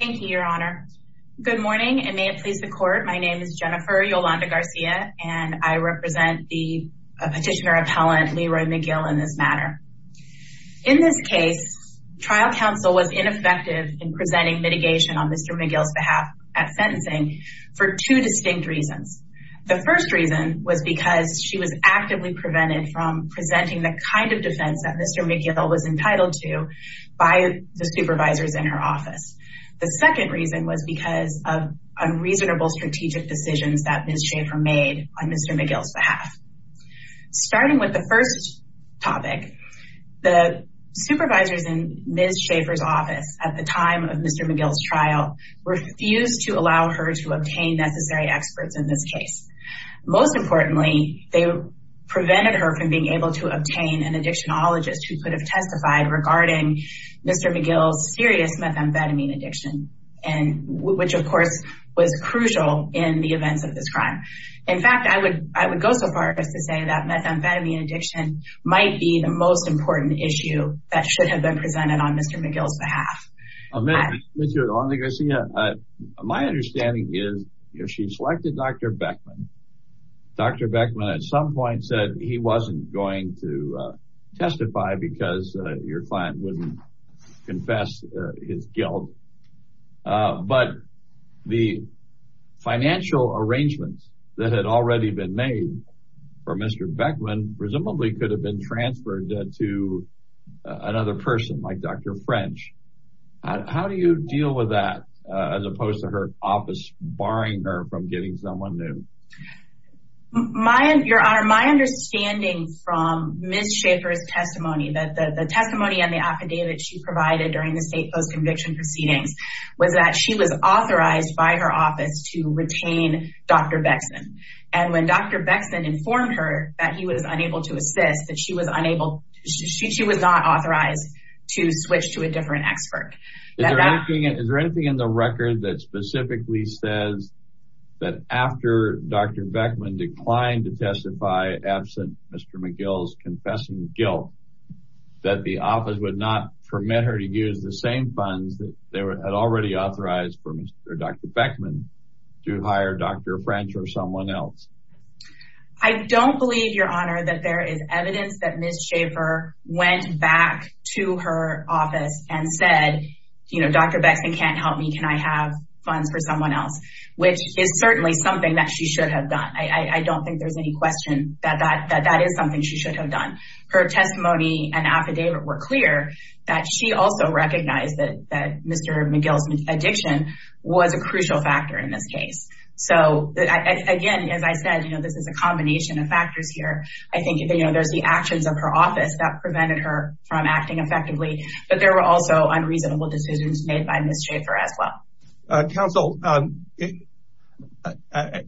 Thank you, your honor. Good morning, and may it please the court. My name is Jennifer Yolanda Garcia, and I represent the petitioner appellant Leroy McGill in this matter. In this case, trial counsel was ineffective in presenting mitigation on Mr. McGill's behalf at sentencing for two distinct reasons. The first reason was because she was actively prevented from in her office. The second reason was because of unreasonable strategic decisions that Ms. Schaefer made on Mr. McGill's behalf. Starting with the first topic, the supervisors in Ms. Schaefer's office at the time of Mr. McGill's trial refused to allow her to obtain necessary experts in this case. Most importantly, they prevented her from being able to obtain an methamphetamine addiction, which of course was crucial in the events of this crime. In fact, I would go so far as to say that methamphetamine addiction might be the most important issue that should have been presented on Mr. McGill's behalf. Mr. Garcia, my understanding is she selected Dr. Beckman. Dr. Beckman at some point said he wasn't going to testify because your client wouldn't confess his guilt. But the financial arrangements that had already been made for Mr. Beckman presumably could have been transferred to another person like Dr. French. How do you deal with that as opposed to her office barring her from getting someone new? Your Honor, my understanding from Ms. Schaefer's testimony that the testimony and the affidavit she provided during the state post-conviction proceedings was that she was authorized by her office to retain Dr. Beckman. And when Dr. Beckman informed her that he was unable to assist, she was not authorized to switch to a different expert. Is there anything in the record that specifically says that after Dr. Beckman declined to testify absent Mr. McGill's confessing guilt that the office would not permit her to use the same funds that they had already authorized for Dr. Beckman to hire Dr. French or someone else? I don't believe, Your Honor, that there is evidence that Ms. Schaefer went back to her office and said, Dr. Beckman can't help me. Can I have funds for someone else? Which is certainly something that she should have done. I don't think there's any question that that is something she should have done. Her testimony and affidavit were clear that she also recognized that Mr. McGill's addiction was a crucial factor in this case. So again, as I said, this is a combination of factors here. I think there's the actions of her office that prevented her from acting effectively. But there were also unreasonable decisions made by Ms. Schaefer as well. Counsel,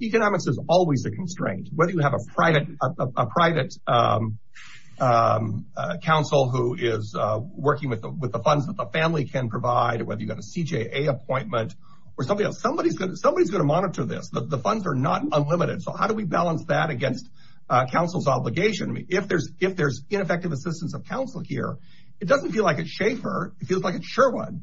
economics is always a constraint. Whether you have a private counsel who is working with the funds that the family can provide, whether you have a CJA appointment, or somebody else, somebody's going to monitor this. The funds are not unlimited. So how do we balance that against counsel's obligation? If there's ineffective assistance of counsel here, it doesn't feel like it's Schaefer. It feels like it's Sherwood.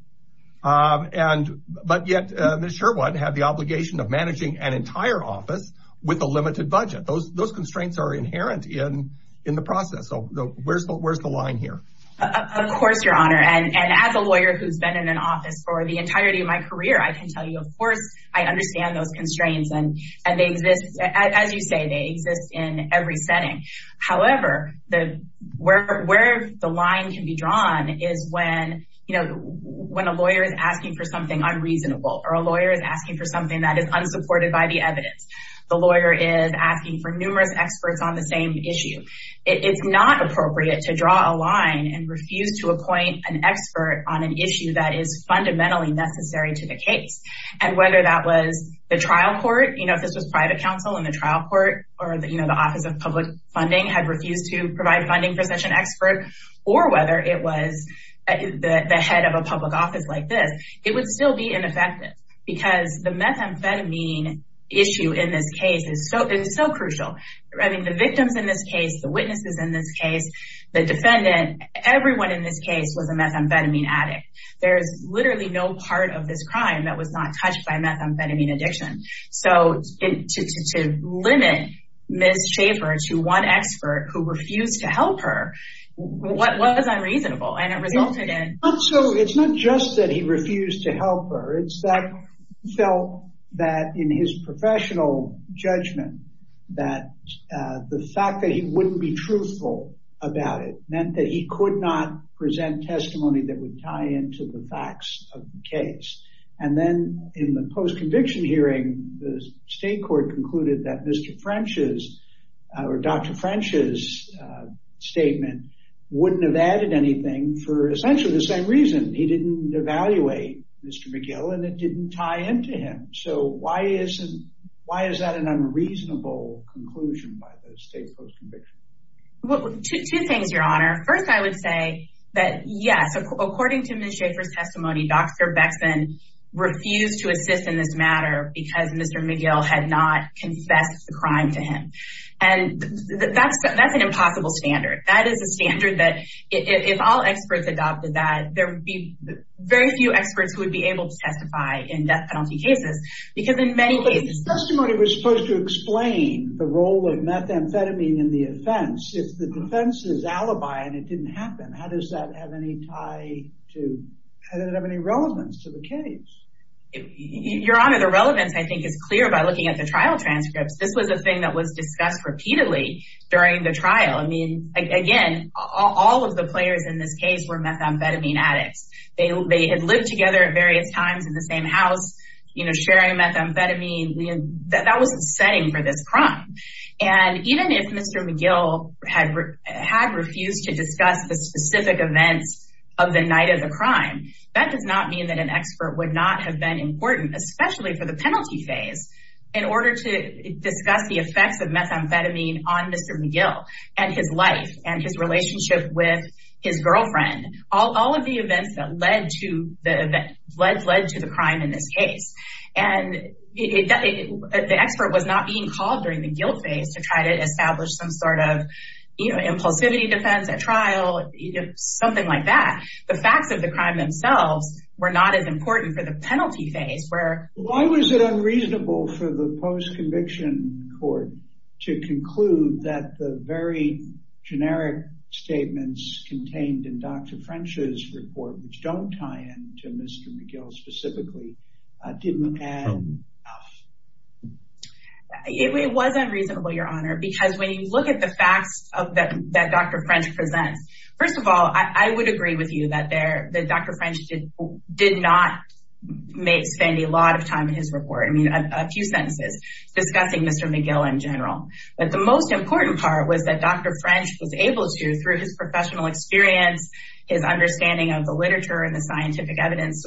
But yet, Ms. Sherwood had the obligation of managing an entire office with a limited budget. Those constraints are inherent in the process. So where's the line here? Of course, Your Honor. And as a lawyer who's been in an office for the entirety of my career, I can tell you, of course, I understand those is when a lawyer is asking for something unreasonable, or a lawyer is asking for something that is unsupported by the evidence. The lawyer is asking for numerous experts on the same issue. It's not appropriate to draw a line and refuse to appoint an expert on an issue that is fundamentally necessary to the case. And whether that was the trial court, if this was private counsel in the trial court, or the Office of Public Funding had refused to provide funding for such an expert, or whether it was the head of a public office like this, it would still be ineffective. Because the methamphetamine issue in this case is so crucial. I mean, the victims in this case, the witnesses in this case, the defendant, everyone in this case was a methamphetamine addict. There's literally no part of this crime that was not touched by methamphetamine addiction. So to limit Ms. Schaffer to one expert who refused to help her, what was unreasonable? And it resulted in... So it's not just that he refused to help her. It's that he felt that in his professional judgment, that the fact that he wouldn't be truthful about it meant that he could not present testimony that would tie into the facts of the case. And then in the post-conviction hearing, the state court concluded that Mr. French's or Dr. French's statement wouldn't have added anything for essentially the same reason. He didn't evaluate Mr. McGill and it didn't tie into him. So why is that an unreasonable conclusion by the state post-conviction? Two things, Your Honor. First, I would say that yes, according to Ms. Schaffer's testimony, he refused to assist in this matter because Mr. McGill had not confessed the crime to him. And that's an impossible standard. That is a standard that if all experts adopted that, there would be very few experts who would be able to testify in death penalty cases. Because in many cases... But the testimony was supposed to explain the role of methamphetamine in the offense. If the defense is alibi and it didn't happen, how does that have any tie to... Your Honor, the relevance I think is clear by looking at the trial transcripts. This was a thing that was discussed repeatedly during the trial. I mean, again, all of the players in this case were methamphetamine addicts. They had lived together at various times in the same house, you know, sharing methamphetamine. That wasn't setting for this crime. And even if Mr. McGill had refused to discuss the specific events of the night of the crime, that does not mean that expert would not have been important, especially for the penalty phase, in order to discuss the effects of methamphetamine on Mr. McGill and his life and his relationship with his girlfriend. All of the events that led to the crime in this case. And the expert was not being called during the guilt phase to try to establish some sort of impulsivity defense at trial, something like that. The facts of the crime themselves were not as important for the penalty phase where... Why was it unreasonable for the post-conviction court to conclude that the very generic statements contained in Dr. French's report, which don't tie in to Mr. McGill specifically, didn't add enough? It was unreasonable, Your Honor, because when you look at the facts that Dr. French presents, first of all, I would agree with you that Dr. French did not spend a lot of time in his report. I mean, a few sentences discussing Mr. McGill in general. But the most important part was that Dr. French was able to, through his professional experience, his understanding of the literature and the scientific evidence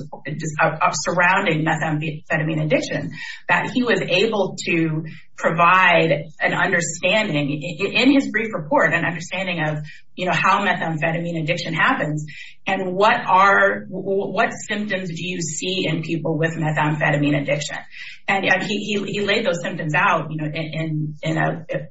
surrounding methamphetamine addiction, that he was able to provide an understanding in his brief report, an understanding of how methamphetamine addiction happens and what symptoms do you see in people with methamphetamine addiction. And he laid those symptoms out in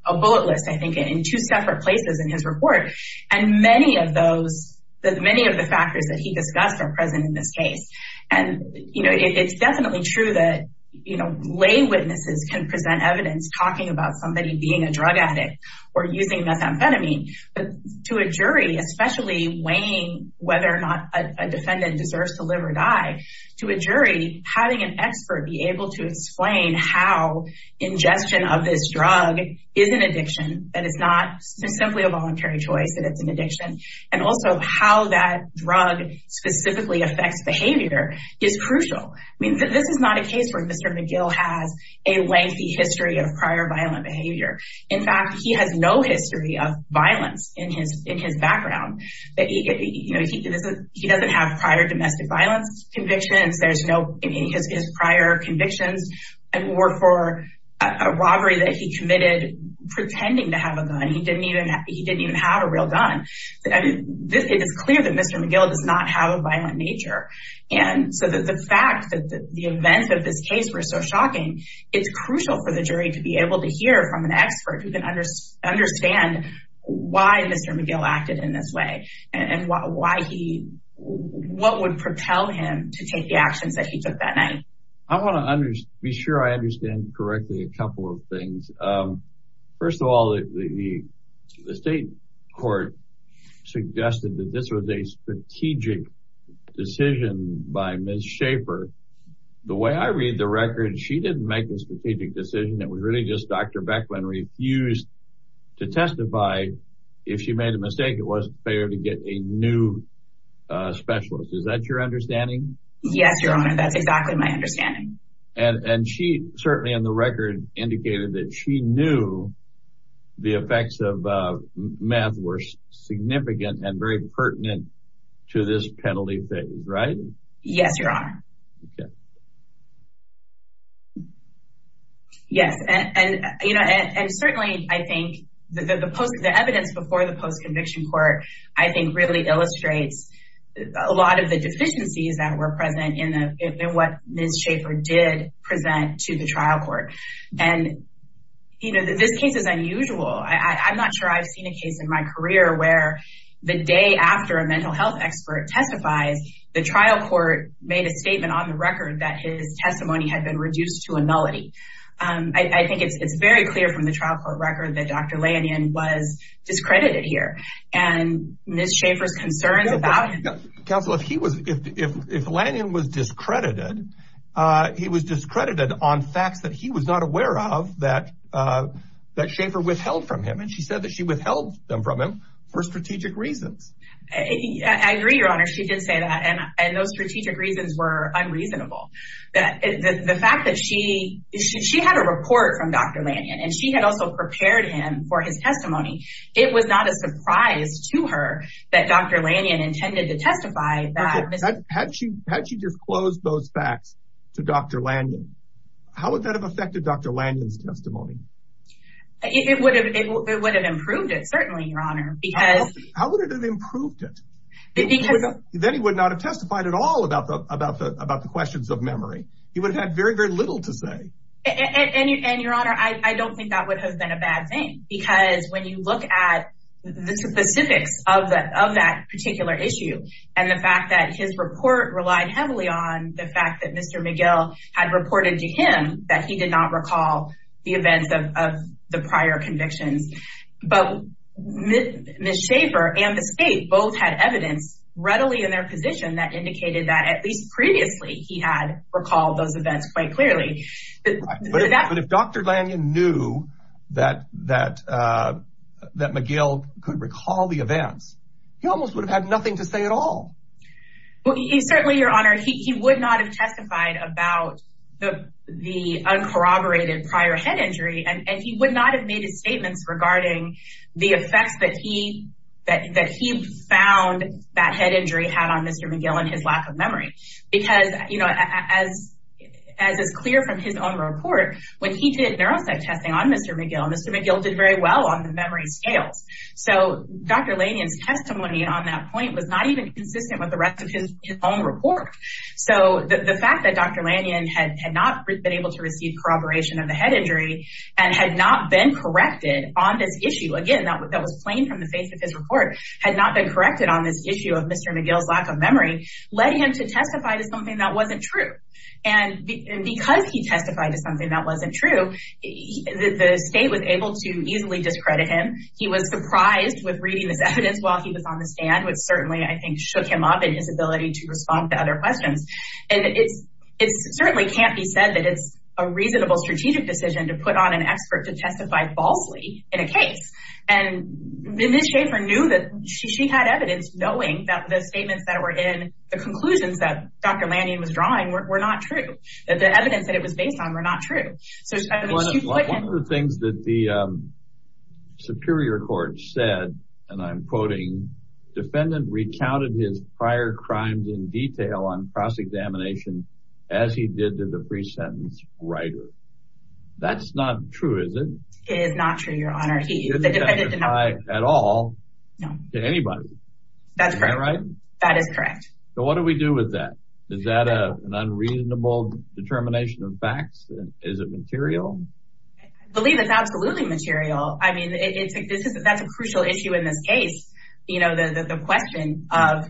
a bullet list, I think, in two separate places in his report. And many of the factors that he discussed are present in this case. And, you know, it's definitely true that, you know, lay witnesses can present evidence talking about somebody being a drug addict or using methamphetamine. But to a jury, especially weighing whether or not a defendant deserves to live or die, to a jury, having an expert be able to explain how ingestion of this drug is an addiction, that it's not simply a voluntary choice, that it's an addiction, and also how that drug specifically affects behavior is crucial. I mean, this is not a case where Mr. McGill has a lengthy history of prior violent behavior. In fact, he has no history of violence in his background. He doesn't have prior domestic violence convictions. His prior convictions were for a robbery that he committed pretending to have a gun. He didn't even have a real gun. I mean, it is clear that Mr. McGill does not have a violent nature. And so the fact that the events of this case were so shocking, it's crucial for the jury to be able to hear from an expert who can understand why Mr. McGill acted in this way and what would propel him to take the actions that he took that night. I want to be sure I understand correctly a couple of things. First of all, the state court suggested that this was a strategic decision by Ms. Schaefer. The way I read the record, she didn't make a strategic decision. It was really just Dr. Beckman refused to testify. If she made a mistake, it wasn't fair to get a new specialist. Is that your understanding? Yes, Your Honor, that's exactly my understanding. And she certainly on the record indicated that she knew the effects of meth were significant and very pertinent to this penalty phase, right? Yes, Your Honor. Yes, and certainly I think the evidence before the post-conviction court, I think really illustrates a lot of the deficiencies that were present in what Ms. Schaefer did present to the trial court. And, you know, this case is unusual. I'm not sure I've seen a case in my career where the day after a mental health expert testifies, the trial court made a statement on the record that his testimony had been reduced to a nullity. I think it's very clear from the trial court record that Dr. Lanyon was discredited here. And Ms. Schaefer's concerns about... Counsel, if he was, if Lanyon was discredited, he was discredited on facts that he was not aware of that Schaefer withheld from him. And she said that she withheld them from him for strategic reasons. I agree, Your Honor. She did say that. And those strategic reasons were unreasonable. That the fact that she had a report from Dr. Lanyon and she had also prepared him for his testimony, it was not a surprise to her that Dr. Lanyon intended to testify. Had she disclosed those facts to Dr. Lanyon, how would that have affected Dr. Lanyon's testimony? It would have improved it, certainly, Your Honor. How would it have improved it? Then he would not have testified at all about the questions of memory. He would have had very, very little to say. And Your Honor, I don't think that would have been a bad thing. Because when you look at the specifics of that particular issue, and the fact that his report relied heavily on the fact that Mr. McGill had reported to him that he did not recall the events of the prior convictions. But Ms. Schaffer and Ms. Kate both had evidence readily in their position that indicated that, at least previously, he had recalled those events quite clearly. But if Dr. Lanyon knew that McGill could recall the events, he almost would have had nothing to say at all. Well, certainly, Your Honor, he would not have testified about the uncorroborated prior head injury, and he would not have made his statements regarding the effects that he found that head injury had on Mr. McGill and his lack of memory. Because as is clear from his own report, when he did neuropsych testing on Mr. McGill, Mr. McGill did very well on the memory scales. So Dr. Lanyon's testimony on that point was not even consistent with the rest of his own report. So the fact that Dr. Lanyon had not been able to receive corroboration of the head injury and had not been corrected on this issue—again, that was plain from the face of his report—had not been corrected on this issue of Mr. McGill's lack of memory led him to testify to something that wasn't true. And because he testified to something that wasn't true, the state was able to easily discredit him. He was surprised with reading this evidence while he was on the stand, which certainly, I think, shook him up in his ability to respond to other questions. And it certainly can't be said that it's a reasonable strategic decision to put on an expert to testify falsely in a case. And Ms. Schaffer knew that she had evidence knowing that the statements that were in the conclusions that Dr. Lanyon was drawing were not true, that the evidence that it was based on were not true. One of the things that the Superior Court said, and I'm quoting, defendant recounted his prior crimes in detail on cross-examination as he did to the pre-sentence writer. That's not true, is it? It is not true, Your Honor. It doesn't apply at all to anybody. That's correct. That is correct. Is it material? I believe it's absolutely material. I mean, that's a crucial issue in this case, the question of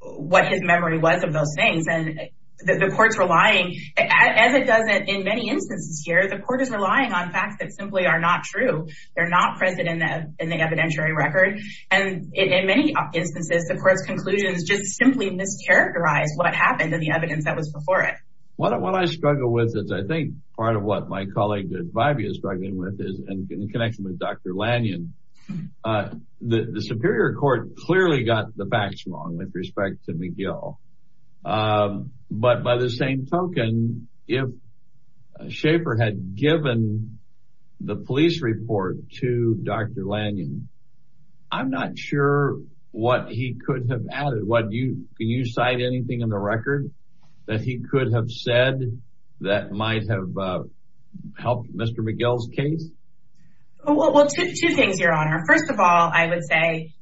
what his memory was of those things. And the court's relying, as it does in many instances here, the court is relying on facts that simply are not true. They're not present in the evidentiary record. And in many instances, the court's conclusions just simply mischaracterize what happened in the evidence that was before it. What I struggle with is, I think, part of what my colleague Vibey is struggling with, is in connection with Dr. Lanyon, the Superior Court clearly got the facts wrong with respect to McGill. But by the same token, if Schaefer had given the police report to Dr. Lanyon, I'm not sure what he could have added. Can you cite anything in the record that he could have said that might have helped Mr. McGill's case? Well, two things, Your Honor. First of all, I would say,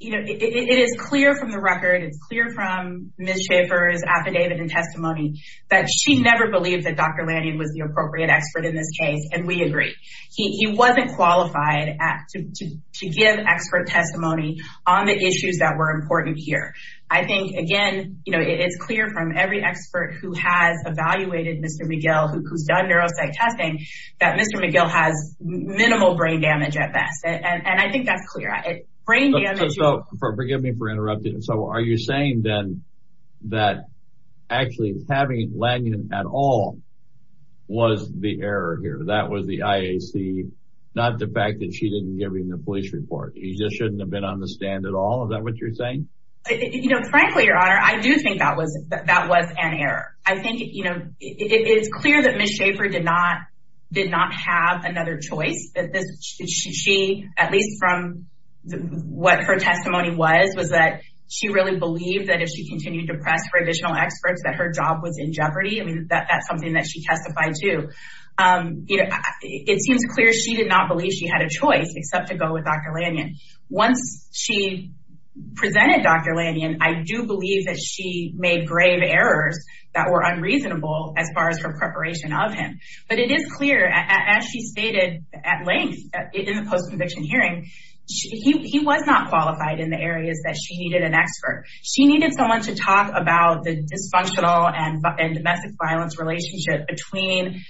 you know, it is clear from the record, it's clear from Ms. Schaefer's affidavit and testimony that she never believed that Dr. Lanyon was the appropriate expert in this case. And we agree. He wasn't qualified to give expert testimony on the issues that were important here. I think, again, you know, it's clear from every expert who has evaluated Mr. McGill, who's done neuropsych testing, that Mr. McGill has minimal brain damage at best. And I think that's clear. So, forgive me for interrupting. So, are you saying then that actually having Lanyon at all was the error here? That was the IAC, not the fact that she didn't give him the police report? He just shouldn't have been on the stand at all? Is that what you're saying? You know, frankly, Your Honor, I do think that was an error. I think, you know, it's clear that Ms. Schaefer did not have another choice. She, at least from what her testimony was, was that she really believed that if she continued to press for additional experts that her job was in jeopardy. I mean, that's something that she testified to. You know, it seems clear she did not believe she had a choice except to go with Dr. Lanyon. Once she presented Dr. Lanyon, I do believe that she made grave errors that were unreasonable as far as her preparation of him. But it is clear, as she stated at length in the post-conviction hearing, he was not qualified in the areas that she needed an expert. She needed someone to talk about the dysfunctional and domestic violence relationship between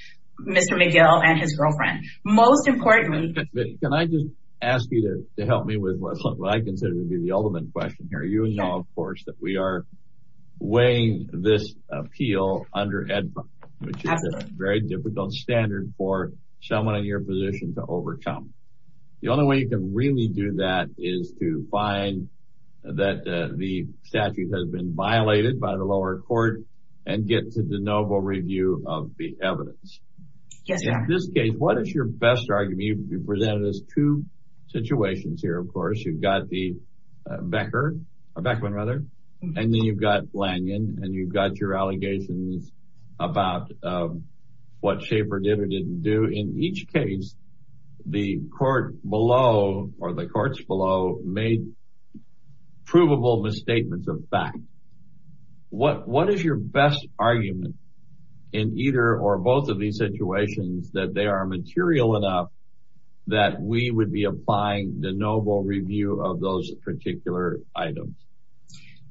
Mr. McGill and his girlfriend. Most importantly... Can I just ask you to help me with what I consider to be the ultimate question here? You know, of course, that we are weighing this appeal under EDPA, which is a very difficult standard for someone in your position to overcome. The only way you can really do that is to find that the statute has been violated by the lower court and get to the noble review of the evidence. In this case, what is your best argument? You presented us two situations here, of course. You've got the Beckman, and then you've got Lanyon, and you've got your allegations about what Schaefer did or didn't do. In each case, the court below, or the courts below, made provable misstatements of fact. What is your best argument in either or both of these situations that they are material enough that we would be applying the noble review of those particular items?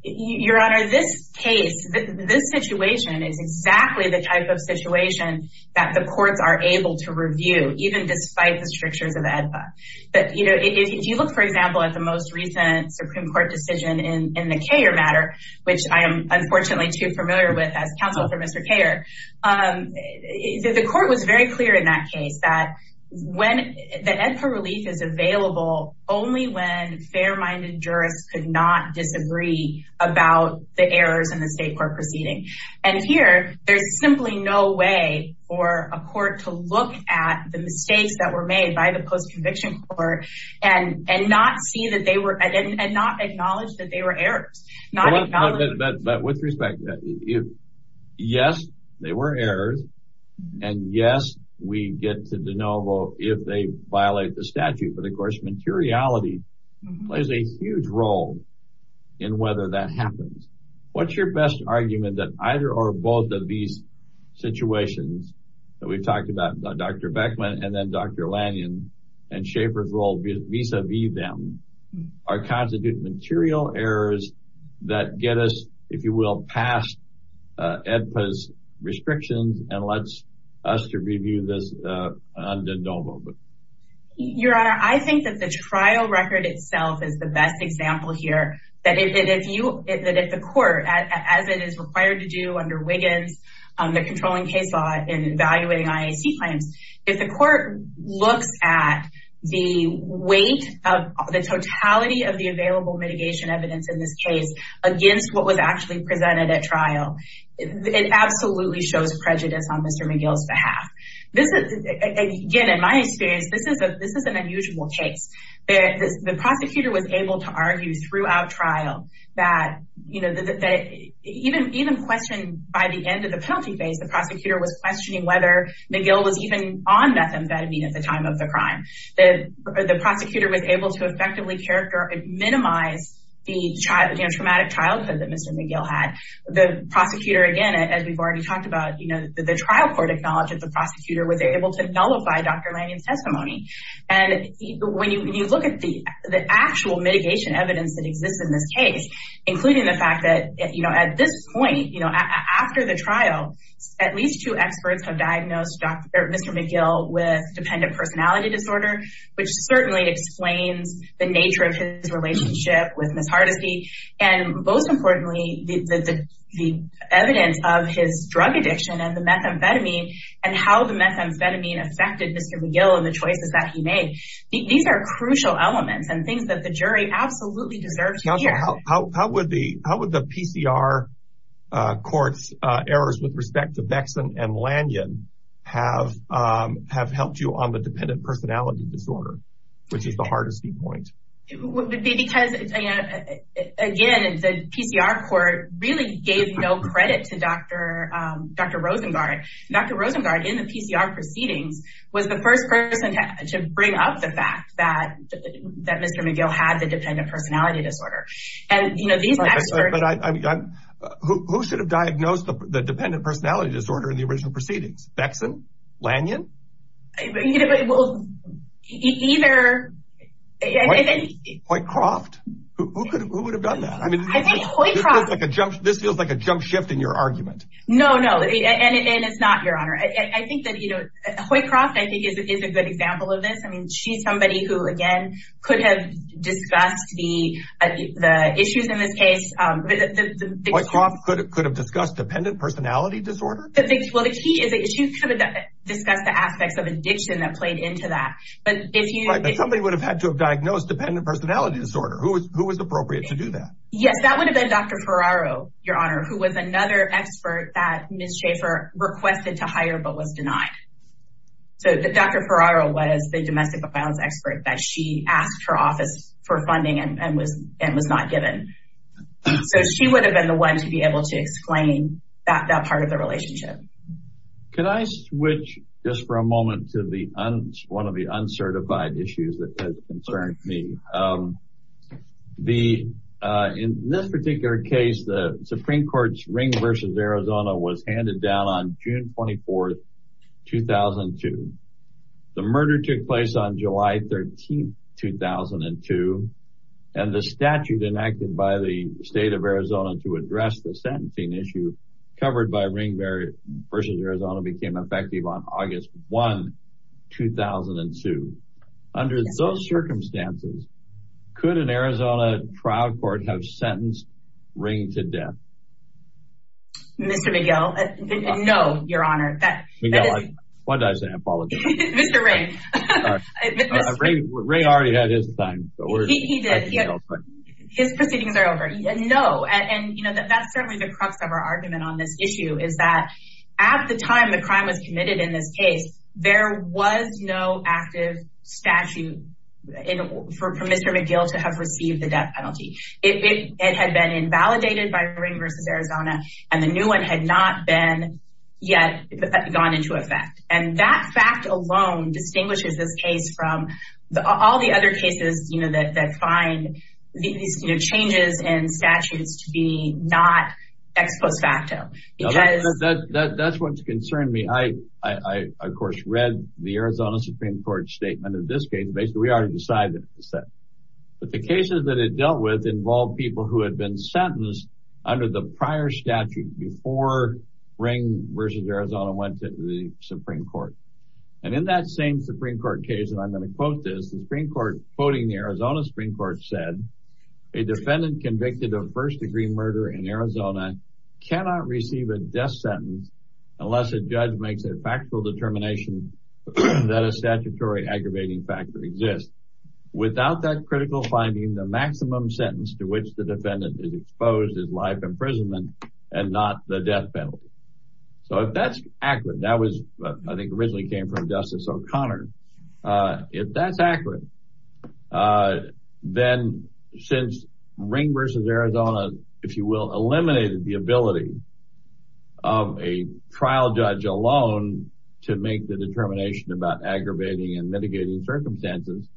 Your Honor, this case, this situation is exactly the type of situation that the courts are able to review, even despite the strictures of EDPA. But, you know, if you look, for example, at the most recent Supreme Court decision in the Koehler matter, which I am unfortunately too familiar with as counsel for Mr. Koehler, the court was very clear in that case that the EDPA relief is available only when fair-minded jurists could not disagree about the errors in the state court proceeding. And here, there's simply no way for a court to look at the mistakes that were made by the post-conviction court and not acknowledge that they were errors. But with respect, yes, they were errors, and yes, we get to the noble if they violate the statute. But, of course, materiality plays a huge role in whether that happens. What's your best argument that either or both of these situations that we've talked about, Dr. Beckman and then Dr. Lanyon, and Schaefer's role vis-a-vis them, are constitute material errors that get us, if you will, past EDPA's restrictions and lets us to review this on the noble? Your Honor, I think that the trial record itself is the best example here. That if the court, as it is required to do under Wiggins, the controlling case law in evaluating IAC claims, if the court looks at the weight of the totality of the available mitigation evidence in this case against what was actually presented at trial, it absolutely shows prejudice on Mr. McGill's behalf. This is, again, in my experience, this is an unusual case. The prosecutor was able to argue throughout trial that even questioned by the end of the penalty phase, the prosecutor was on methamphetamine at the time of the crime. The prosecutor was able to effectively characterize and minimize the traumatic childhood that Mr. McGill had. The prosecutor, again, as we've already talked about, the trial court acknowledged that the prosecutor was able to nullify Dr. Lanyon's testimony. When you look at the actual mitigation evidence that exists in this case, including the fact that at this point, after the trial, at least two experts have diagnosed Mr. McGill with dependent personality disorder, which certainly explains the nature of his relationship with Ms. Hardesty. Most importantly, the evidence of his drug addiction and the methamphetamine and how the methamphetamine affected Mr. McGill and the choices that he made, these are crucial elements and things that the jury absolutely deserves to hear. How would the PCR court's errors with respect to Bexson and Lanyon have helped you on the dependent personality disorder, which is the Hardesty point? It would be because, again, the PCR court really gave no credit to Dr. Rosengart. Dr. Rosengart, in the PCR proceedings, was the first person to bring up the fact that Mr. McGill had the dependent personality disorder. These experts... Who should have diagnosed the dependent personality disorder in the original proceedings? Bexson? Lanyon? Hoycroft? Who would have done that? This feels like a jump shift in your argument. No, no. It's not, Your Honor. Hoycroft, I think, is a good example of this. She's somebody who, could have discussed the issues in this case. Hoycroft could have discussed dependent personality disorder? Well, the key is that she could have discussed the aspects of addiction that played into that. Right, but somebody would have had to have diagnosed dependent personality disorder. Who was appropriate to do that? Yes, that would have been Dr. Ferraro, Your Honor, who was another expert that Ms. Schaefer requested to hire but was denied. So, Dr. Ferraro was the domestic violence expert that she asked her office for funding and was not given. So, she would have been the one to be able to explain that part of the relationship. Can I switch, just for a moment, to one of the uncertified issues that has concerned me? In this particular case, the Supreme Court's ring versus Arizona was handed down on June 24th 2002. The murder took place on July 13th 2002 and the statute enacted by the state of Arizona to address the sentencing issue covered by ring versus Arizona became effective on August 1, 2002. Under those circumstances, could an Arizona trial court have sentenced Ring to death? Mr. McGill, no, Your Honor. McGill, I apologize. Mr. Ring. Ring already had his time. His proceedings are over. No, and that's certainly the crux of our argument on this issue is that at the time the crime was committed in this case, there was no active statute for Mr. McGill to have and the new one had not yet gone into effect. And that fact alone distinguishes this case from all the other cases that find these changes in statutes to be not ex post facto. That's what's concerned me. I, of course, read the Arizona Supreme Court's statement in this case. Basically, we already decided that it was sentenced. But the cases that it dealt with involved people who had been sentenced under the prior statute before Ring versus Arizona went to the Supreme Court. And in that same Supreme Court case, and I'm going to quote this, the Supreme Court quoting the Arizona Supreme Court said a defendant convicted of first degree murder in Arizona cannot receive a death sentence unless a judge makes a factual determination that a statutory aggravating factor exists. Without that critical finding, the maximum sentence to which the defendant is exposed is life imprisonment and not the death penalty. So if that's accurate, that was I think originally came from Justice O'Connor. If that's accurate, then since Ring versus Arizona, if you will, eliminated the ability of a trial judge alone to make the determination about aggravating and mitigating circumstances,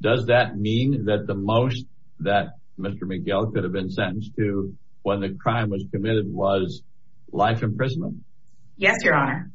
does that mean that the most that Mr. McGill could have been sentenced to when the crime was committed was life imprisonment? Yes, Your Honor.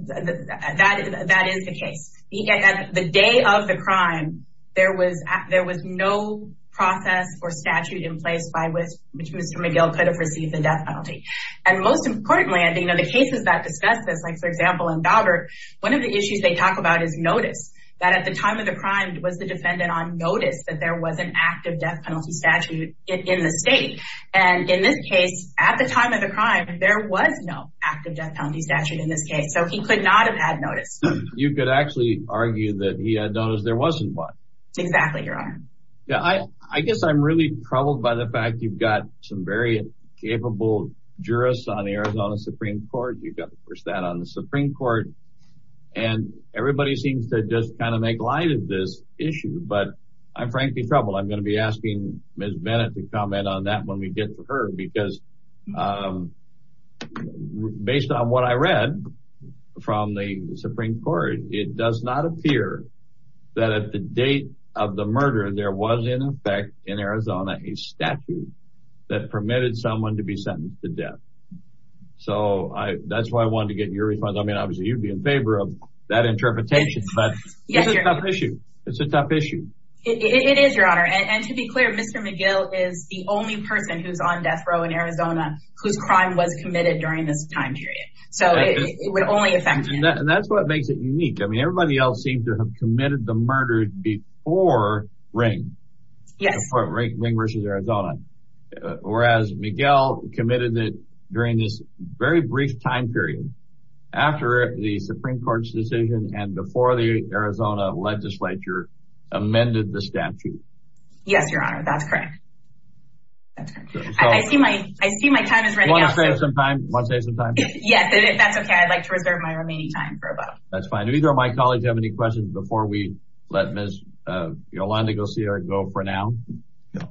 That is the case. At the day of the crime, there was no process or statute in place by which Mr. McGill could have received the death penalty. And most importantly, I think the cases that discuss this, like for example in Daubert, one of the issues they talk about is notice that at the time of the crime was the defendant on notice that there was an active death penalty statute in the state. And in this case, at the time of the crime, there was no active death penalty statute in this case. So he could not have had notice. You could actually argue that he had noticed there wasn't one. Exactly, Your Honor. Yeah, I guess I'm really troubled by the fact you've got some very capable jurists on the Supreme Court and everybody seems to just kind of make light of this issue. But I'm frankly troubled. I'm going to be asking Ms. Bennett to comment on that when we get to her because based on what I read from the Supreme Court, it does not appear that at the date of the murder, there was in effect in Arizona a statute that permitted someone to be sentenced to death. So that's why I wanted to get your response. I mean, obviously you'd be in favor of that interpretation, but it's a tough issue. It's a tough issue. It is, Your Honor. And to be clear, Mr. McGill is the only person who's on death row in Arizona whose crime was committed during this time period. So it would only affect him. And that's what makes it unique. I mean, everybody else seems to have committed the murder before Ring versus Arizona. Whereas Miguel committed it during this very brief time period after the Supreme Court's decision and before the Arizona legislature amended the statute. Yes, Your Honor. That's correct. I see my time is running out. You want to save some time? Yeah, that's okay. I'd like to reserve my remaining time for a vote. That's fine. Do either of my colleagues have any questions before we let Ms. Yolanda Garcia go for now? No,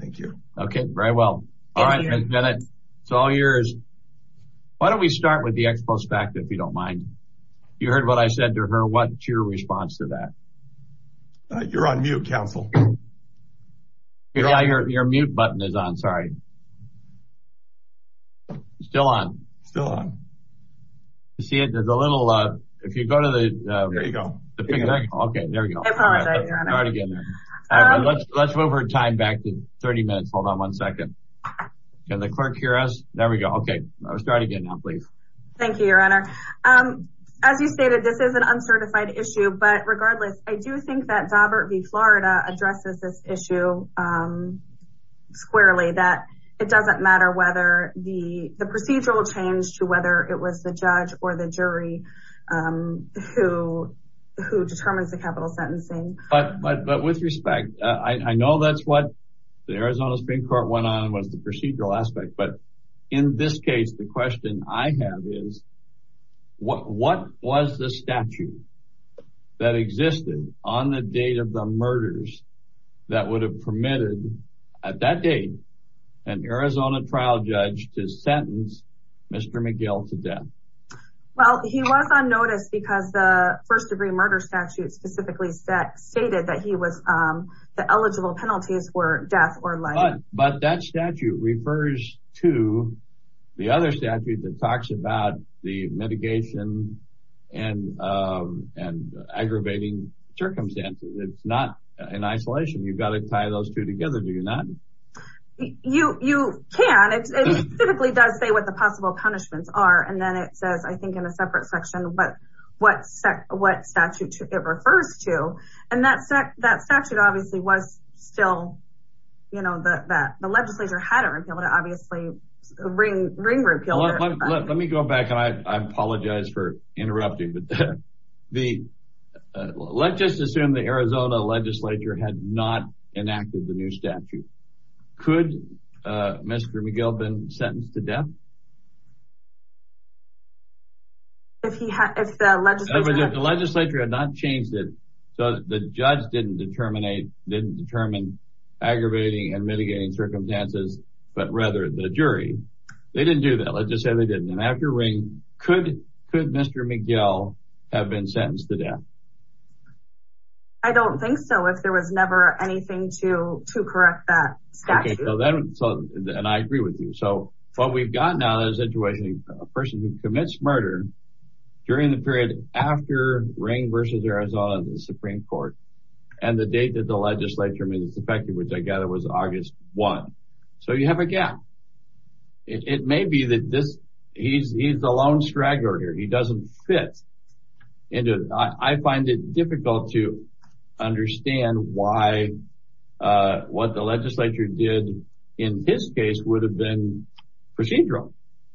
thank you. Okay, very well. All right. Why don't we start with the ex post facto, if you don't mind. You heard what I said to her. What's your response to that? You're on mute, counsel. Yeah, your mute button is on. Sorry. It's still on. Still on. You see it, there's a little, if you go to the, there you go. Okay, there we go. I apologize, Your Honor. Let's move our time back to 30 minutes. Hold on one second. Can the clerk hear us? There we go. Okay, start again now, please. Thank you, Your Honor. As you stated, this is an uncertified issue, but regardless, I do think that Daubert v. Florida addresses this issue squarely, that it doesn't matter whether the procedural change to whether it was the judge or the jury who determines the capital sentencing. But with respect, I know that's what the Arizona Supreme Court went on, was the procedural aspect. But in this case, the question I have is, what was the statute that existed on the date of the murders that would have permitted at that date an Arizona trial judge to sentence Mr. McGill to death? Well, he was on notice because the first degree murder statute specifically stated that he was, the eligible penalties were But that statute refers to the other statute that talks about the mitigation and aggravating circumstances. It's not in isolation. You've got to tie those two together, do you not? You can. It specifically does say what the possible punishments are. And then it says, I think in a separate section, what statute it refers to. And that statute obviously was still you know, that the legislature had to be able to obviously bring repeal. Let me go back. I apologize for interrupting. But let's just assume the Arizona legislature had not enacted the new statute. Could Mr. McGill have been sentenced to death? If the legislature had not changed it, so the judge didn't determine aggravating and mitigating circumstances, but rather the jury, they didn't do that. Let's just say they didn't. And I have your ring. Could Mr. McGill have been sentenced to death? I don't think so. If there was never anything to correct that statute. And I agree with you. So what we've got now is a statute a person who commits murder during the period after Ring v. Arizona in the Supreme Court and the date that the legislature made its effective, which I gather was August 1. So you have a gap. It may be that he's the lone straggler here. He doesn't fit into it. I find it difficult to understand why what the legislature did in his case would have been procedural.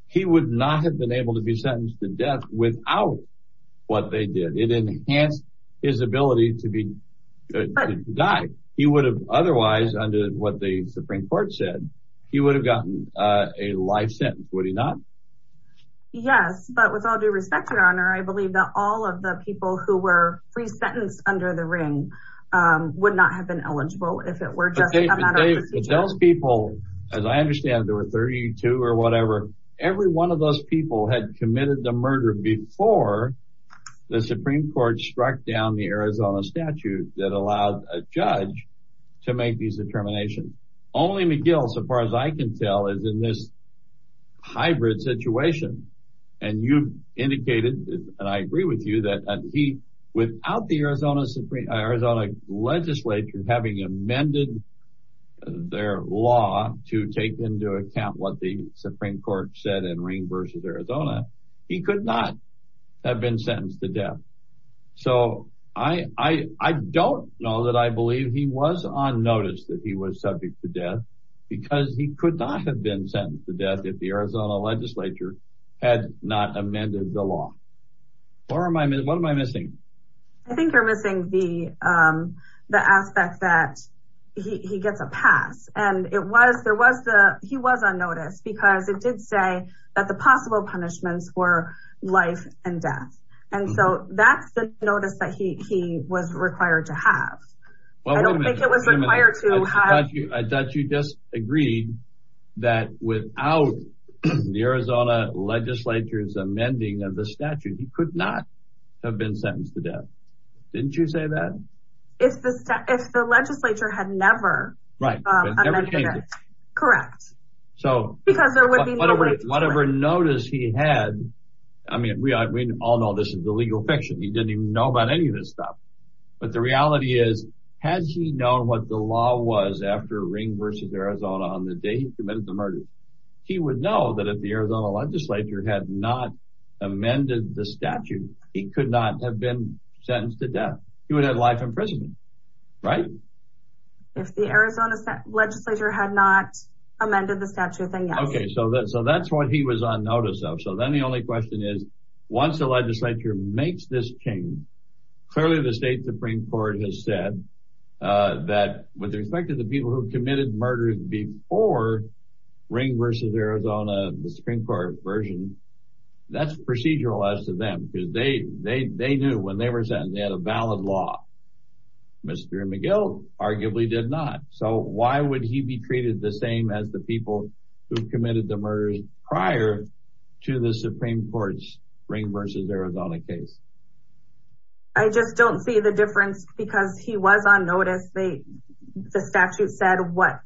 He would not have been able to be sentenced to death without what they did. It enhanced his ability to die. He would have otherwise, under what the Supreme Court said, he would have gotten a life sentence. Would he not? Yes. But with all due respect, Your Honor, I believe that all of the people who were free sentenced under the ring would not have been eligible if it were those people. As I understand, there were 32 or whatever. Every one of those people had committed the murder before the Supreme Court struck down the Arizona statute that allowed a judge to make these determinations. Only McGill, so far as I can tell, is in this hybrid situation. And you indicated, and I agree with you, that he, without the Arizona legislature having amended their law to take into account what the Supreme Court said in Ring v. Arizona, he could not have been sentenced to death. So I don't know that I believe he was on notice that he was subject to death because he could not have been sentenced to death if the Arizona legislature had not amended the law. What am I missing? I think you're missing the aspect that he gets a pass. And he was on notice because it did say that the possible punishments were life and death. And so that's the notice that he was required to have. I thought you just agreed that without the Arizona legislature's amending of the statute, he could not have been sentenced to death. Didn't you say that? If the legislature had never amended it. Correct. Because there would be no way to do it. Whatever notice he had, I mean, we all know this is illegal fiction. He didn't even know about any of this stuff. But the reality is, had he known what the law was after Ring v. Arizona on the day he committed the murder, he would know that if the Arizona legislature had not amended the statute, he could not have been sentenced to death. He would have had life in prison. Right? If the Arizona legislature had not amended the statute, then yes. Okay. So that's what he was on notice of. So then the only question is, once the legislature makes this change, clearly the state Supreme Court has said that with respect to the people committed murders before Ring v. Arizona, the Supreme Court version, that's procedural as to them because they knew when they were sentenced, they had a valid law. Mr. McGill arguably did not. So why would he be treated the same as the people who committed the murders prior to the Supreme Court's Ring v. Arizona case? I just don't see the difference because he was on notice. The statute said what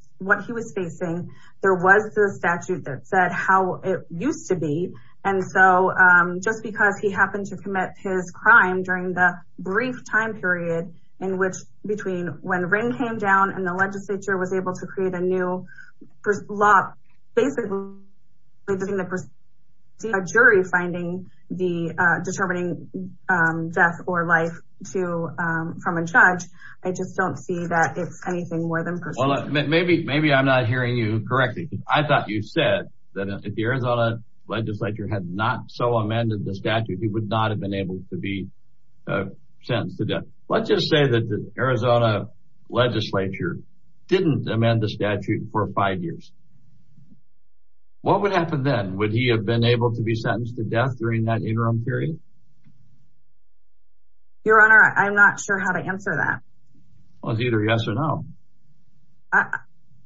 he was facing. There was the statute that said how it used to be. And so just because he happened to commit his crime during the brief time period in which between when Ring came down and the legislature was able to create a new law, basically it's anything more than procedural. Maybe I'm not hearing you correctly. I thought you said that if the Arizona legislature had not so amended the statute, he would not have been able to be sentenced to death. Let's just say that the Arizona legislature didn't amend the statute for five years. What would happen then? Would he have been able to be sentenced to death during that interim period? Your Honor, I'm not sure how to answer that. Well, it's either yes or no.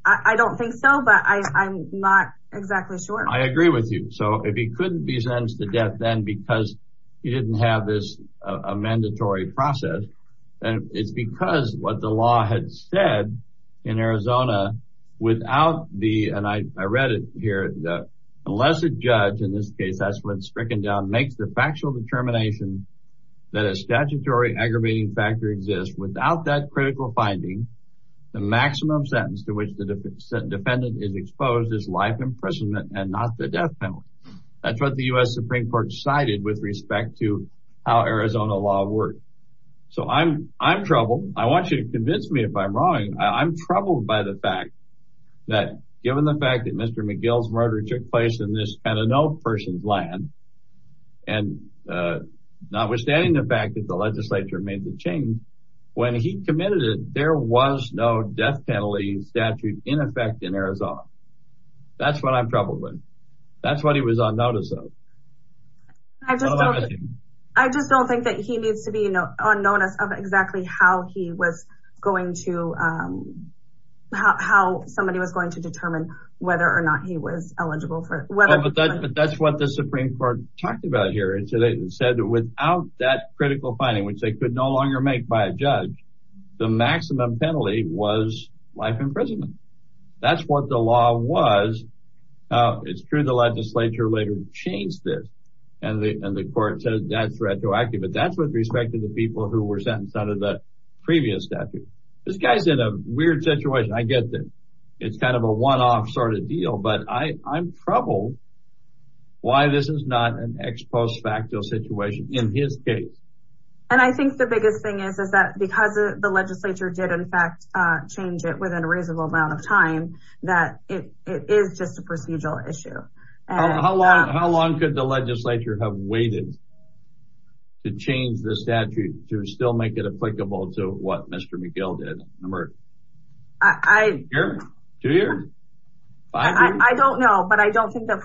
I don't think so, but I'm not exactly sure. I agree with you. So if he couldn't be sentenced to death then because he didn't have this a mandatory process, and it's because what the law had said in Arizona without the, and I read it here, the lesser judge in this case, Strickendown, makes the factual determination that a statutory aggravating factor exists. Without that critical finding, the maximum sentence to which the defendant is exposed is life imprisonment and not the death penalty. That's what the U.S. Supreme Court cited with respect to how Arizona law works. So I'm troubled. I want you to convince me if I'm wrong. I'm troubled by the fact that the legislature made the change. When he committed it, there was no death penalty statute in effect in Arizona. That's what I'm troubled with. That's what he was on notice of. I just don't think that he needs to be on notice of exactly how somebody was going to determine whether or not he was eligible for it. That's what the Supreme Court talked about here and said that without that critical finding, which they could no longer make by a judge, the maximum penalty was life imprisonment. That's what the law was. It's true the legislature later changed this and the court said that's retroactive, but that's with respect to the people who were sentenced under the previous statute. This guy's in a weird situation. I get it. It's kind of a one-off sort of deal, but I'm troubled why this is not an ex post facto situation in his case. I think the biggest thing is that because the legislature did in fact change it within a reasonable amount of time, that it is just a procedural issue. How long could the legislature have waited to change the statute to still make it applicable to what Mr. McGill did? Two years? I don't know, but I don't think that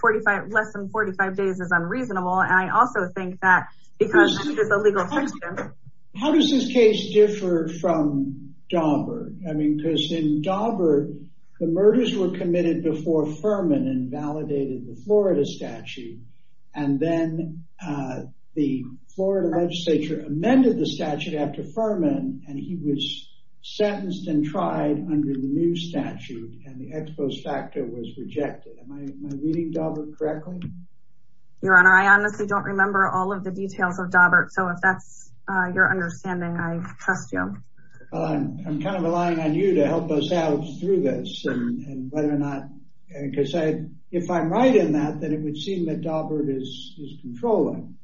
less than 45 days is unreasonable and I also think that because it is a legal question. How does this case differ from Daubert? I mean, because in Daubert, the murders were committed before Fuhrman invalidated the Florida statute and then the Florida legislature amended the statute after Fuhrman and he was sentenced and tried under the new statute and the ex post facto was rejected. Am I reading Daubert correctly? Your Honor, I honestly don't remember all of the details of Daubert, so if that's your understanding, I trust you. I'm kind of relying on you to help us out through this and whether or not, because if I'm right in that, then it would seem that Daubert is controlling.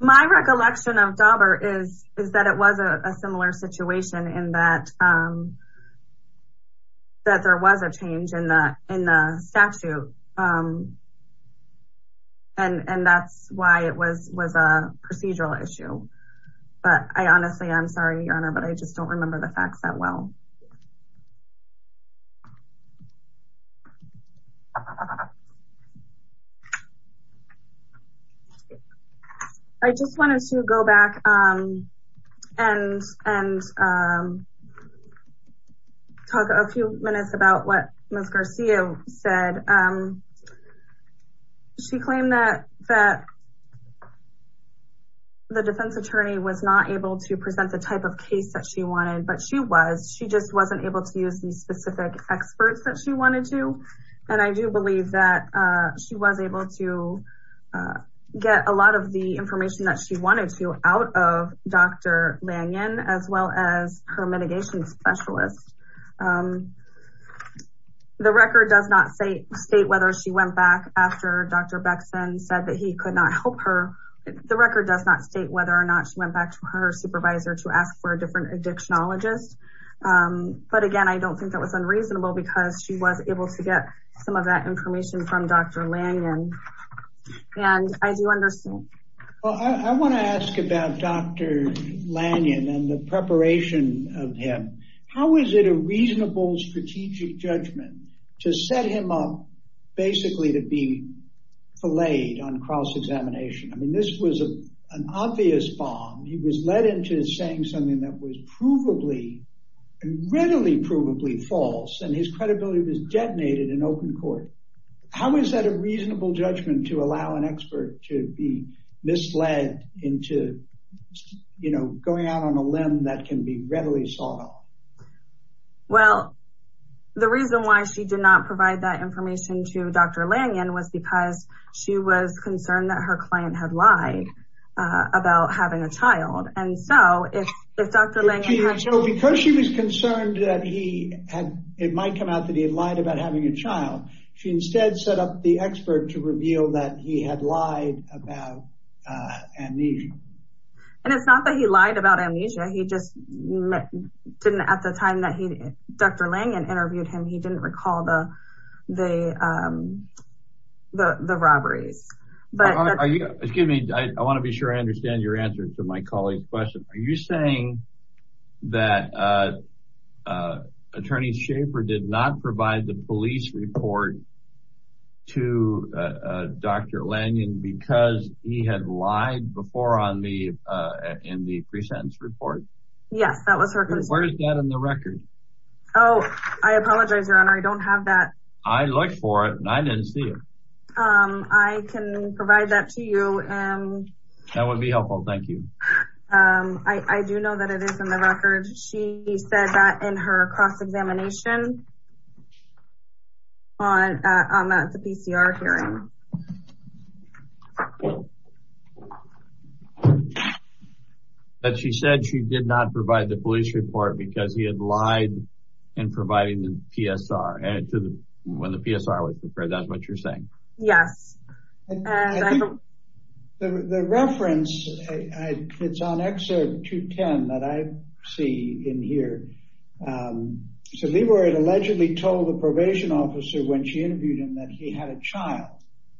My recollection of Daubert is that it was a similar situation in that that there was a change in the statute and that's why it was a procedural issue. But I honestly, I'm sorry, Your Honor, but I just don't remember the facts that well. I just wanted to go back and talk a few minutes about what Ms. Garcia said. She claimed that the defense attorney was not able to present the type of case that she wanted, but she was. She just wasn't able to use the specific experts that she wanted to and I do believe that she was able to get a lot of the information that she wanted to out of Dr. Lanyon as well as her mitigation specialist. The record does not say state whether she went back after Dr. Beckson said that he could not help her. The record does not state whether or not she went back to her supervisor to ask for a different addictionologist, but again, I don't think that was unreasonable because she was able to get some of that information from Dr. Lanyon and I do understand. Well, I want to ask about Dr. Lanyon and the preparation of him. How is it a reasonable strategic judgment to set him up basically to be belayed on cross-examination? I mean, this was an obvious bomb. He was led into saying something that was provably, readily provably false and his credibility was detonated in open court. How is that a reasonable judgment to allow an expert to be misled into, you know, going out on a limb that can be readily sawed off? Well, the reason why she did not provide that information to Dr. Lanyon was because she was concerned that her client had lied about having a child. And so, if Dr. Lanyon had... So, because she was concerned that he had, it might come out that he had lied about having a child, she instead set up the expert to reveal that he had lied about amnesia. And it's not that he lied about amnesia. He just didn't at the time that Dr. Lanyon interviewed him, he didn't recall the robberies. Are you, excuse me, I want to be sure I understand your answer to my colleague's question. Are you saying that Attorney Schaffer did not provide the police report to Dr. Lanyon because he had lied before in the pre-sentence report? Yes, that was her concern. Where is that in the record? Oh, I apologize, Your Honor. I don't have that. I looked for it and I didn't see it. I can provide that to you. That would be helpful. Thank you. I do know that it is in the record. She said that in her cross-examination on the PCR hearing. That she said she did not provide the police report because he had lied in providing the PSR. When the PSR was prepared, that's what you're saying? Yes. The reference, it's on excerpt 210 that I see in here. So Leroy had allegedly told the probation officer when she interviewed him that he had a child.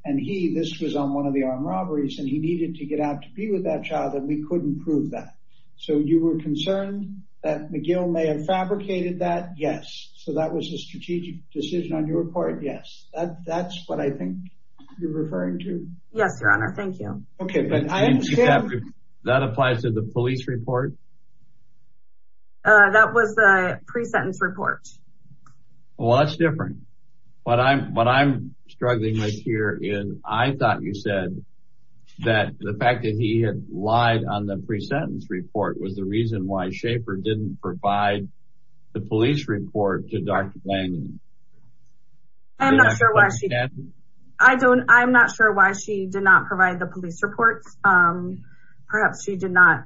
And he, this was on one of the armed robberies and he needed to get out to be with that child and we couldn't prove that. So you were concerned that McGill may have fabricated that? Yes. So that was a strategic decision on your report? Yes. That's what I think you're referring to. Yes, Your Honor. Thank you. Okay. That applies to the police report? That was the pre-sentence report. Well, that's different. What I'm struggling with here is I thought you said that the fact that he lied on the pre-sentence report was the reason why Schaefer didn't provide the police report to Dr. Blaney. I'm not sure why she did not provide the police reports. Perhaps she did not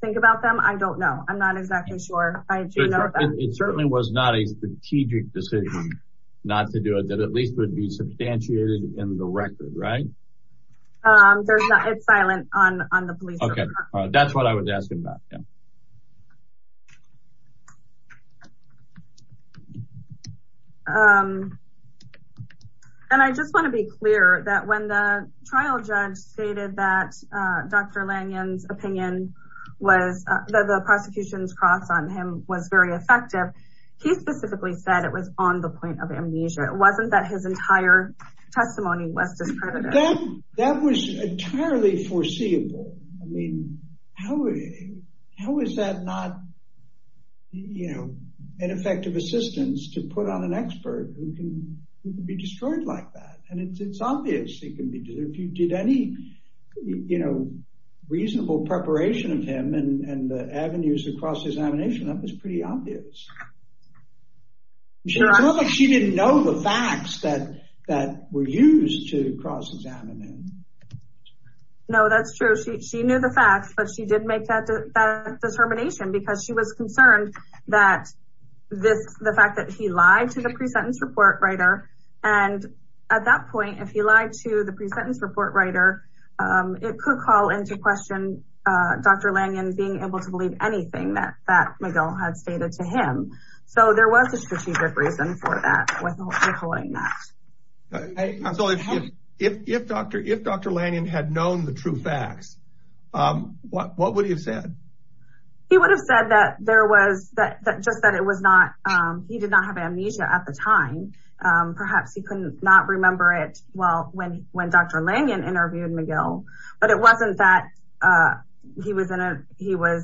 think about them. I don't know. I'm not exactly sure. It certainly was not a strategic decision not to do it that at least would be substantiated in the record, right? It's silent on the police report. That's what I was asking about. And I just want to be clear that when the trial judge stated that Dr. Lanyon's opinion was that the prosecution's cross on him was very effective. He specifically said it was on the point of less discredited. That was entirely foreseeable. I mean, how is that not an effective assistance to put on an expert who can be destroyed like that? And it's obvious he can be. If you did any reasonable preparation of him and the avenues across examination, that was pretty obvious. It's not like she didn't know the facts that were used to cross examine him. No, that's true. She knew the facts, but she didn't make that determination because she was concerned that the fact that he lied to the pre-sentence report writer. And at that point, if he lied to the pre-sentence report writer, it could call into question Dr. Lanyon being able to believe anything that Miguel had stated to him. So there was a strategic reason for that. If Dr. Lanyon had known the true facts, what would he have said? He would have said that he did not have amnesia at the time. Perhaps he could not remember it when Dr. Lanyon interviewed Miguel, but it wasn't that he was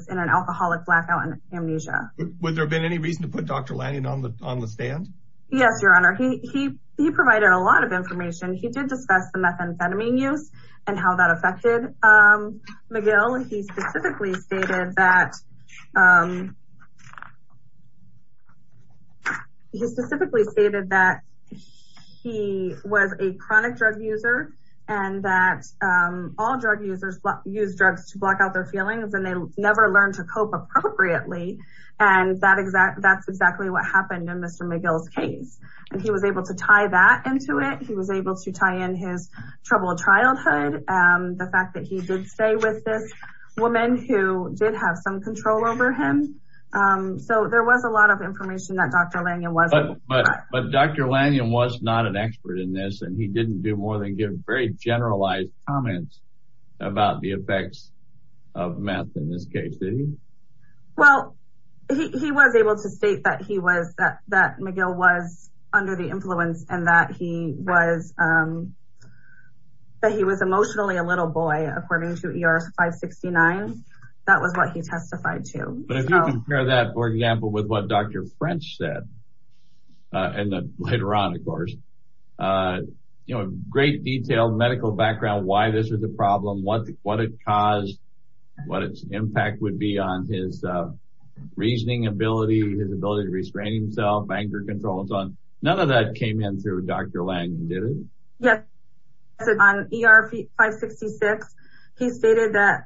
in an alcoholic blackout and amnesia. Was there any reason to put Dr. Lanyon on the stand? Yes, your honor. He provided a lot of information. He did discuss the methamphetamine use and how that affected Miguel. He specifically stated that he was a chronic drug user and that all drug users use drugs to block out their feelings and they never learn to cope appropriately. That's exactly what happened in Mr. Miguel's case. He was able to tie that into it. He was able to tie in his troubled childhood, the fact that he did stay with this woman who did have some control over him. So there was a lot of information that Dr. Lanyon wasn't aware of. But Dr. Lanyon was not an expert in this and he didn't do more than give very generalized comments about the effects of meth in this case, did he? Well, he was able to state that Miguel was under the influence and that he was emotionally a little boy according to ER 569. That was what he testified to. If you compare that, for example, with what Dr. French said later on, of course, you know, great detail, medical background, why this was a problem, what it caused, what its impact would be on his reasoning ability, his ability to restrain himself, anger control, and so on. None of that came in through Dr. Lanyon, did it? Yes. On ER 566, he stated that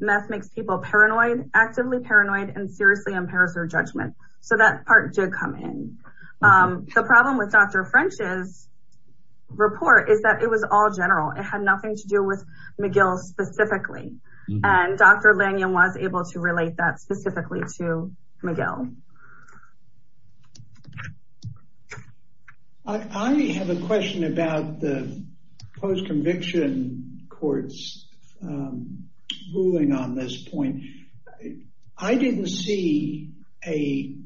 meth makes people paranoid, actively paranoid, and seriously impairs their judgment. So that part did come in. The problem with Dr. French's report is that it was all general. It had nothing to do with Miguel specifically. And Dr. Lanyon was able to relate that specifically to Miguel. I have a question about the post-conviction court's ruling on this point. I didn't see a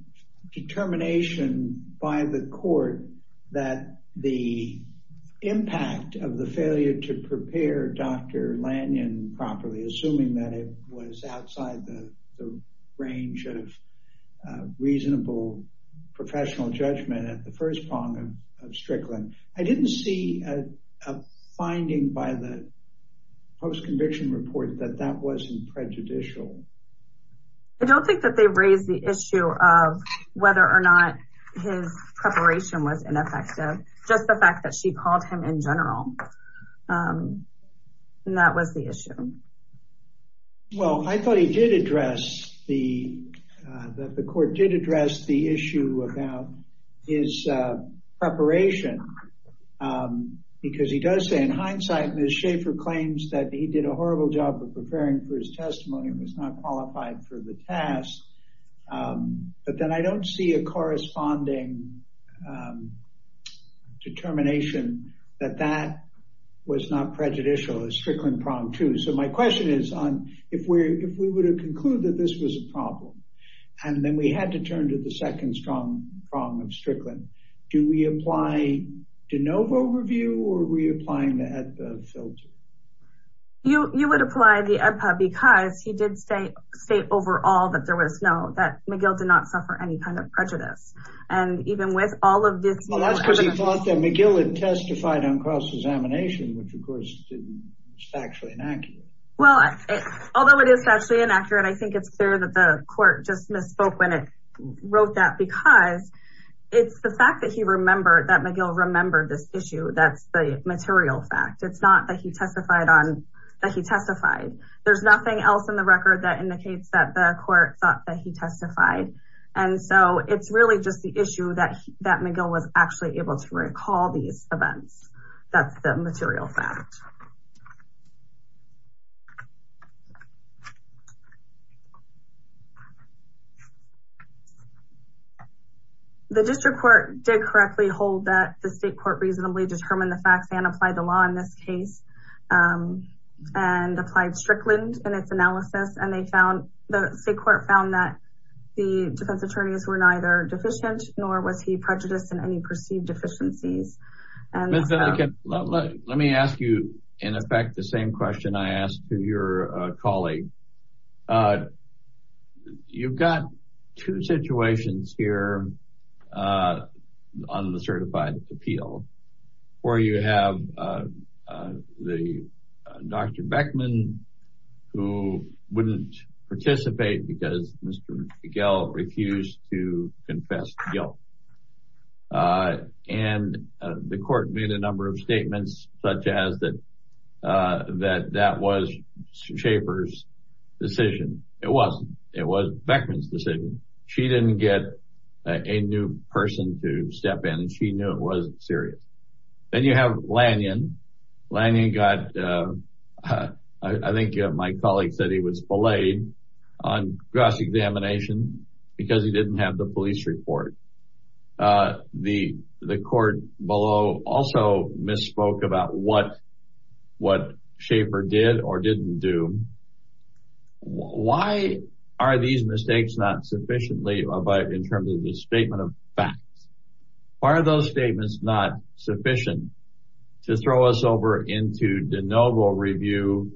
determination by the court that the impact of the failure to prepare Dr. Lanyon properly, assuming that it was outside the range of professional judgment at the first prong of Strickland. I didn't see a finding by the post-conviction report that that wasn't prejudicial. I don't think that they raised the issue of whether or not his preparation was ineffective, just the fact that she called him in general. And that was the issue. Well, I thought he did address the court did address the issue about his preparation. Because he does say in hindsight, Ms. Schaffer claims that he did a horrible job of preparing for his testimony and was not qualified for the task. But then I don't see a corresponding determination that that was not prejudicial as Strickland pronged too. So my question is, if we were to conclude that this was a problem, and then we had to turn to the second strong prong of Strickland, do we apply de novo review or reapplying the AEDPA filter? You would apply the AEDPA because he did say, state overall that there was no that McGill did not suffer any kind of prejudice. And even with all of this, well, that's because he thought that McGill had testified on cross examination, which of course, didn't actually inaccurate. Well, although it is actually inaccurate, I think it's fair that the court just misspoke when it wrote that because it's the fact that that McGill remembered this issue. That's the material fact. It's not that he testified on that he testified. There's nothing else in the record that indicates that the court thought that he testified. And so it's really just the issue that McGill was actually able to recall these events. That's the material fact. The district court did correctly hold that the state court reasonably determined the facts and applied the law in this case. And applied Strickland and its analysis and they found the state court found that the defense attorneys were neither deficient nor was he prejudiced in any perceived deficiencies. Miss Ellicott, let me ask you, in effect, the same question I asked to your colleague. You've got two situations here on the certified appeal, where you have the Dr. Beckman, who wouldn't participate because Mr. McGill refused to confess to guilt. And the court made a number of statements such as that that was Schaefer's decision. It wasn't. It was Beckman's decision. She didn't get a new person to step in and she knew it wasn't serious. Then you have Lanyon. Lanyon got, I think my colleague said he was belayed on cross-examination because he didn't have the police report. The court below also misspoke about what Schaefer did or didn't do. Why are these mistakes not sufficiently in terms of the statement of facts? Why are those statements not sufficient to throw us over into de novo review,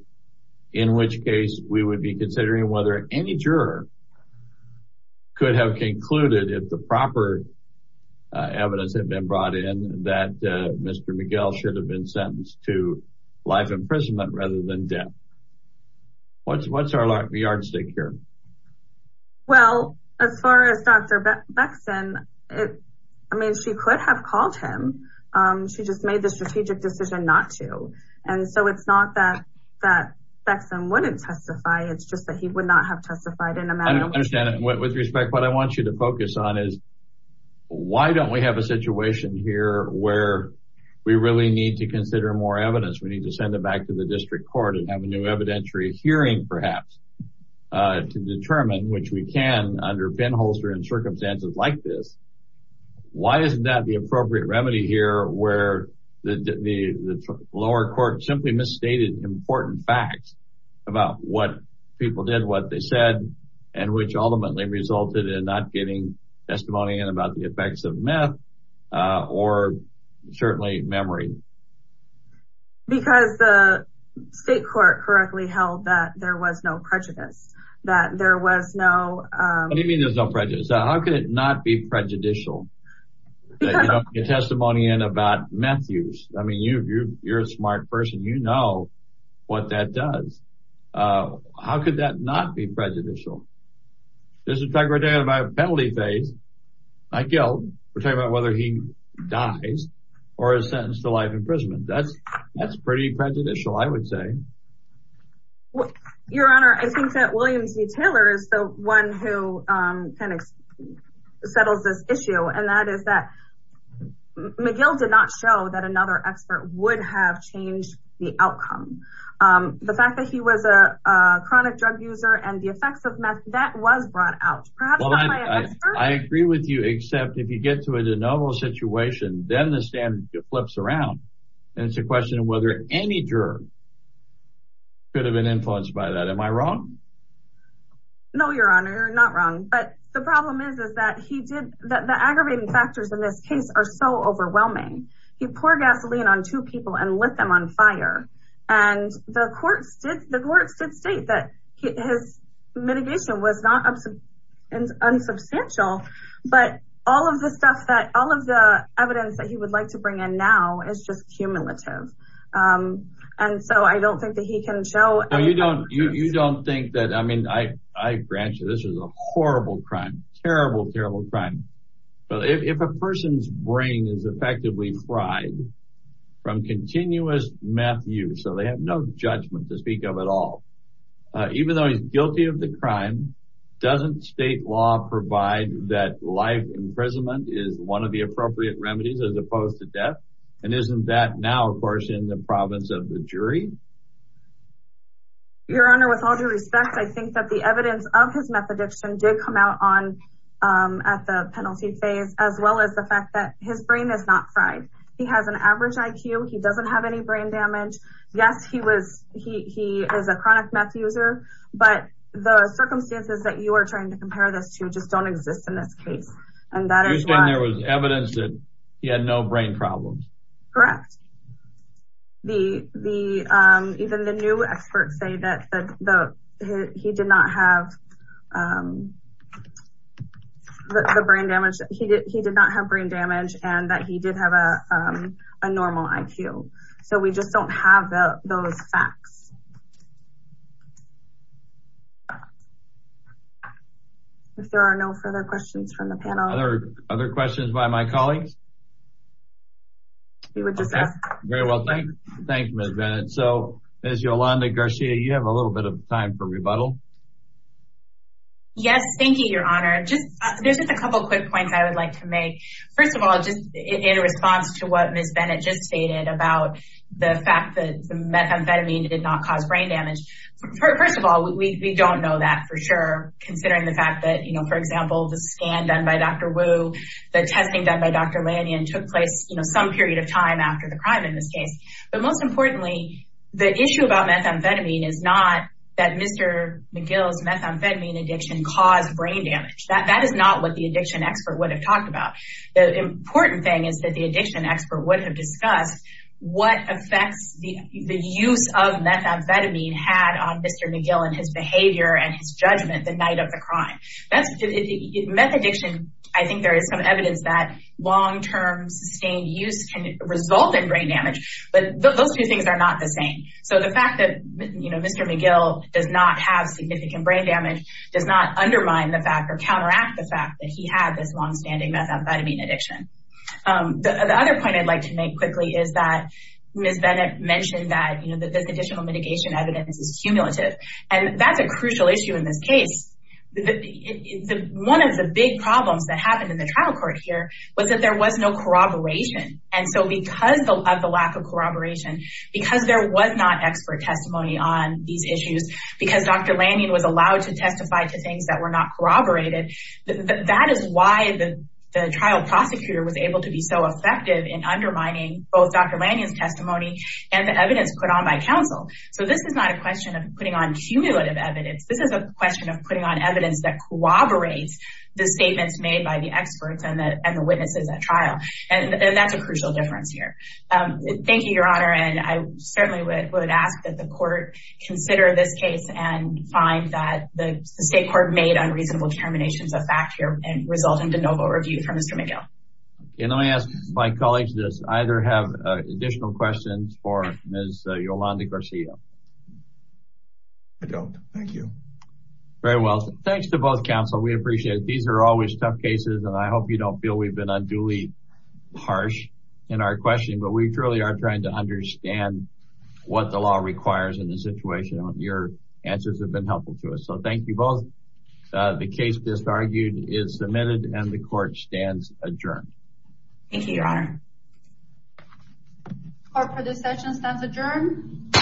in which case we would be considering whether any juror could have concluded if the proper evidence had been brought in that Mr. McGill should have been sentenced to life imprisonment rather than death. What's our yardstick here? Well, as far as Dr. Beckman, I mean, she could have called him. She just made the strategic decision not to. And so it's not that Beckman wouldn't testify. It's just that he would not have testified in a manner. I don't understand. With respect, what I want you to focus on is why don't we have a situation here where we really need to consider more evidence. We need to send it back to the district court and have a new evidentiary hearing, perhaps, to determine which we can under penholster in circumstances like this. Why isn't that the appropriate remedy here where the lower court simply misstated important facts about what people did, what they said, and which ultimately resulted in not getting testimony in about the effects of meth or certainly memory? Because the state court correctly held that there was no prejudice, that there was no. What do you mean there's no prejudice? How could it not be prejudicial? You don't get testimony in about meth use. I mean, you're a smart person. You know what that does. How could that not be prejudicial? This is a fact we're talking about penalty phase. My guilt, we're talking about whether he dies or is sentenced to life imprisonment. That's pretty prejudicial, I would say. Your Honor, I think that William C. Taylor is the one who settles this issue, and that is that McGill did not show that another expert would have changed the outcome. The fact that he was a chronic drug user and the effects of meth, that was brought out. I agree with you, except if you get to a de novo situation, then the stand flips around, and it's a question of whether any juror could have been influenced by that. Am I wrong? No, Your Honor, you're not wrong. But the problem is that the aggravating factors in this case are so overwhelming. He poured gasoline on two people and lit them on fire. The courts did state that his mitigation was not unsubstantial, but all of the evidence that he would like to bring in now is just cumulative. I don't think that he can show- You don't think that, I mean, I grant you, this is a horrible crime, terrible, terrible crime. If a person's brain is effectively fried from continuous meth use, so they have no judgment to speak of at all, even though he's guilty of the crime, doesn't state law provide that life imprisonment is one of the appropriate remedies as opposed to death? And isn't that now, of course, in the province of the jury? Your Honor, with all due respect, I think that the evidence of his meth addiction did come out at the penalty phase, as well as the fact that his brain is not average IQ, he doesn't have any brain damage. Yes, he is a chronic meth user, but the circumstances that you are trying to compare this to just don't exist in this case. And that is why- You're saying there was evidence that he had no brain problems? Correct. Even the new experts say that he did not have brain damage, and that he did have a normal IQ. So we just don't have those facts. If there are no further questions from the panel- Other questions by my colleagues? We would just ask- Very well, thank you, Ms. Bennett. So, Ms. Yolanda Garcia, you have a little bit of time for rebuttal. Yes, thank you, Your Honor. There's just a couple quick points I would like to make. First of all, just in response to what Ms. Bennett just stated about the fact that the methamphetamine did not cause brain damage. First of all, we don't know that for sure, considering the fact that, for example, the scan done by Dr. Wu, the testing done by Dr. Lanyon took place some period of time after the crime in this case. But most importantly, the issue about methamphetamine is not that Mr. McGill's methamphetamine addiction caused brain damage. That is not what the addiction expert would have talked about. The important thing is that the addiction expert would have discussed what effects the use of methamphetamine had on Mr. McGill and his behavior and his judgment the night of the crime. Meth addiction, I think there is some evidence that long-term, sustained use can result in brain damage, but those two things are not the same. So the fact that Mr. McGill does not have significant brain damage does not undermine the fact or counteract the fact that he had this long-standing methamphetamine addiction. The other point I'd like to make quickly is that Ms. Bennett mentioned that this additional mitigation evidence is cumulative, and that's a crucial issue in this case. One of the big problems that happened in the trial court here was that there was no corroboration. And so because of the lack of corroboration, because there was not expert testimony on these issues, because Dr. Lanyon was allowed to testify to things that were not corroborated, that is why the trial prosecutor was able to be so effective in undermining both Dr. Lanyon's testimony and the evidence put on by counsel. So this is not a question of putting on cumulative evidence. This is a question of putting on evidence that corroborates the statements made by the experts and the witnesses at trial. And that's a crucial difference here. Thank you, Your Honor. And I certainly would ask that the court consider this case and find that the state court made unreasonable determinations of fact here and result in de novo review for Mr. McGill. Can I ask my colleagues that either have additional questions for Ms. Yolanda Garcia? I don't. Thank you. Very well. Thanks to both counsel. We appreciate it. These are always tough cases. And I hope you don't feel we've been unduly harsh in our question, but we truly are trying to understand what the law requires in this situation. Your answers have been helpful to us. So thank you both. The case just argued is submitted and the court stands adjourned. Thank you, Your Honor. Court for this session stands adjourned.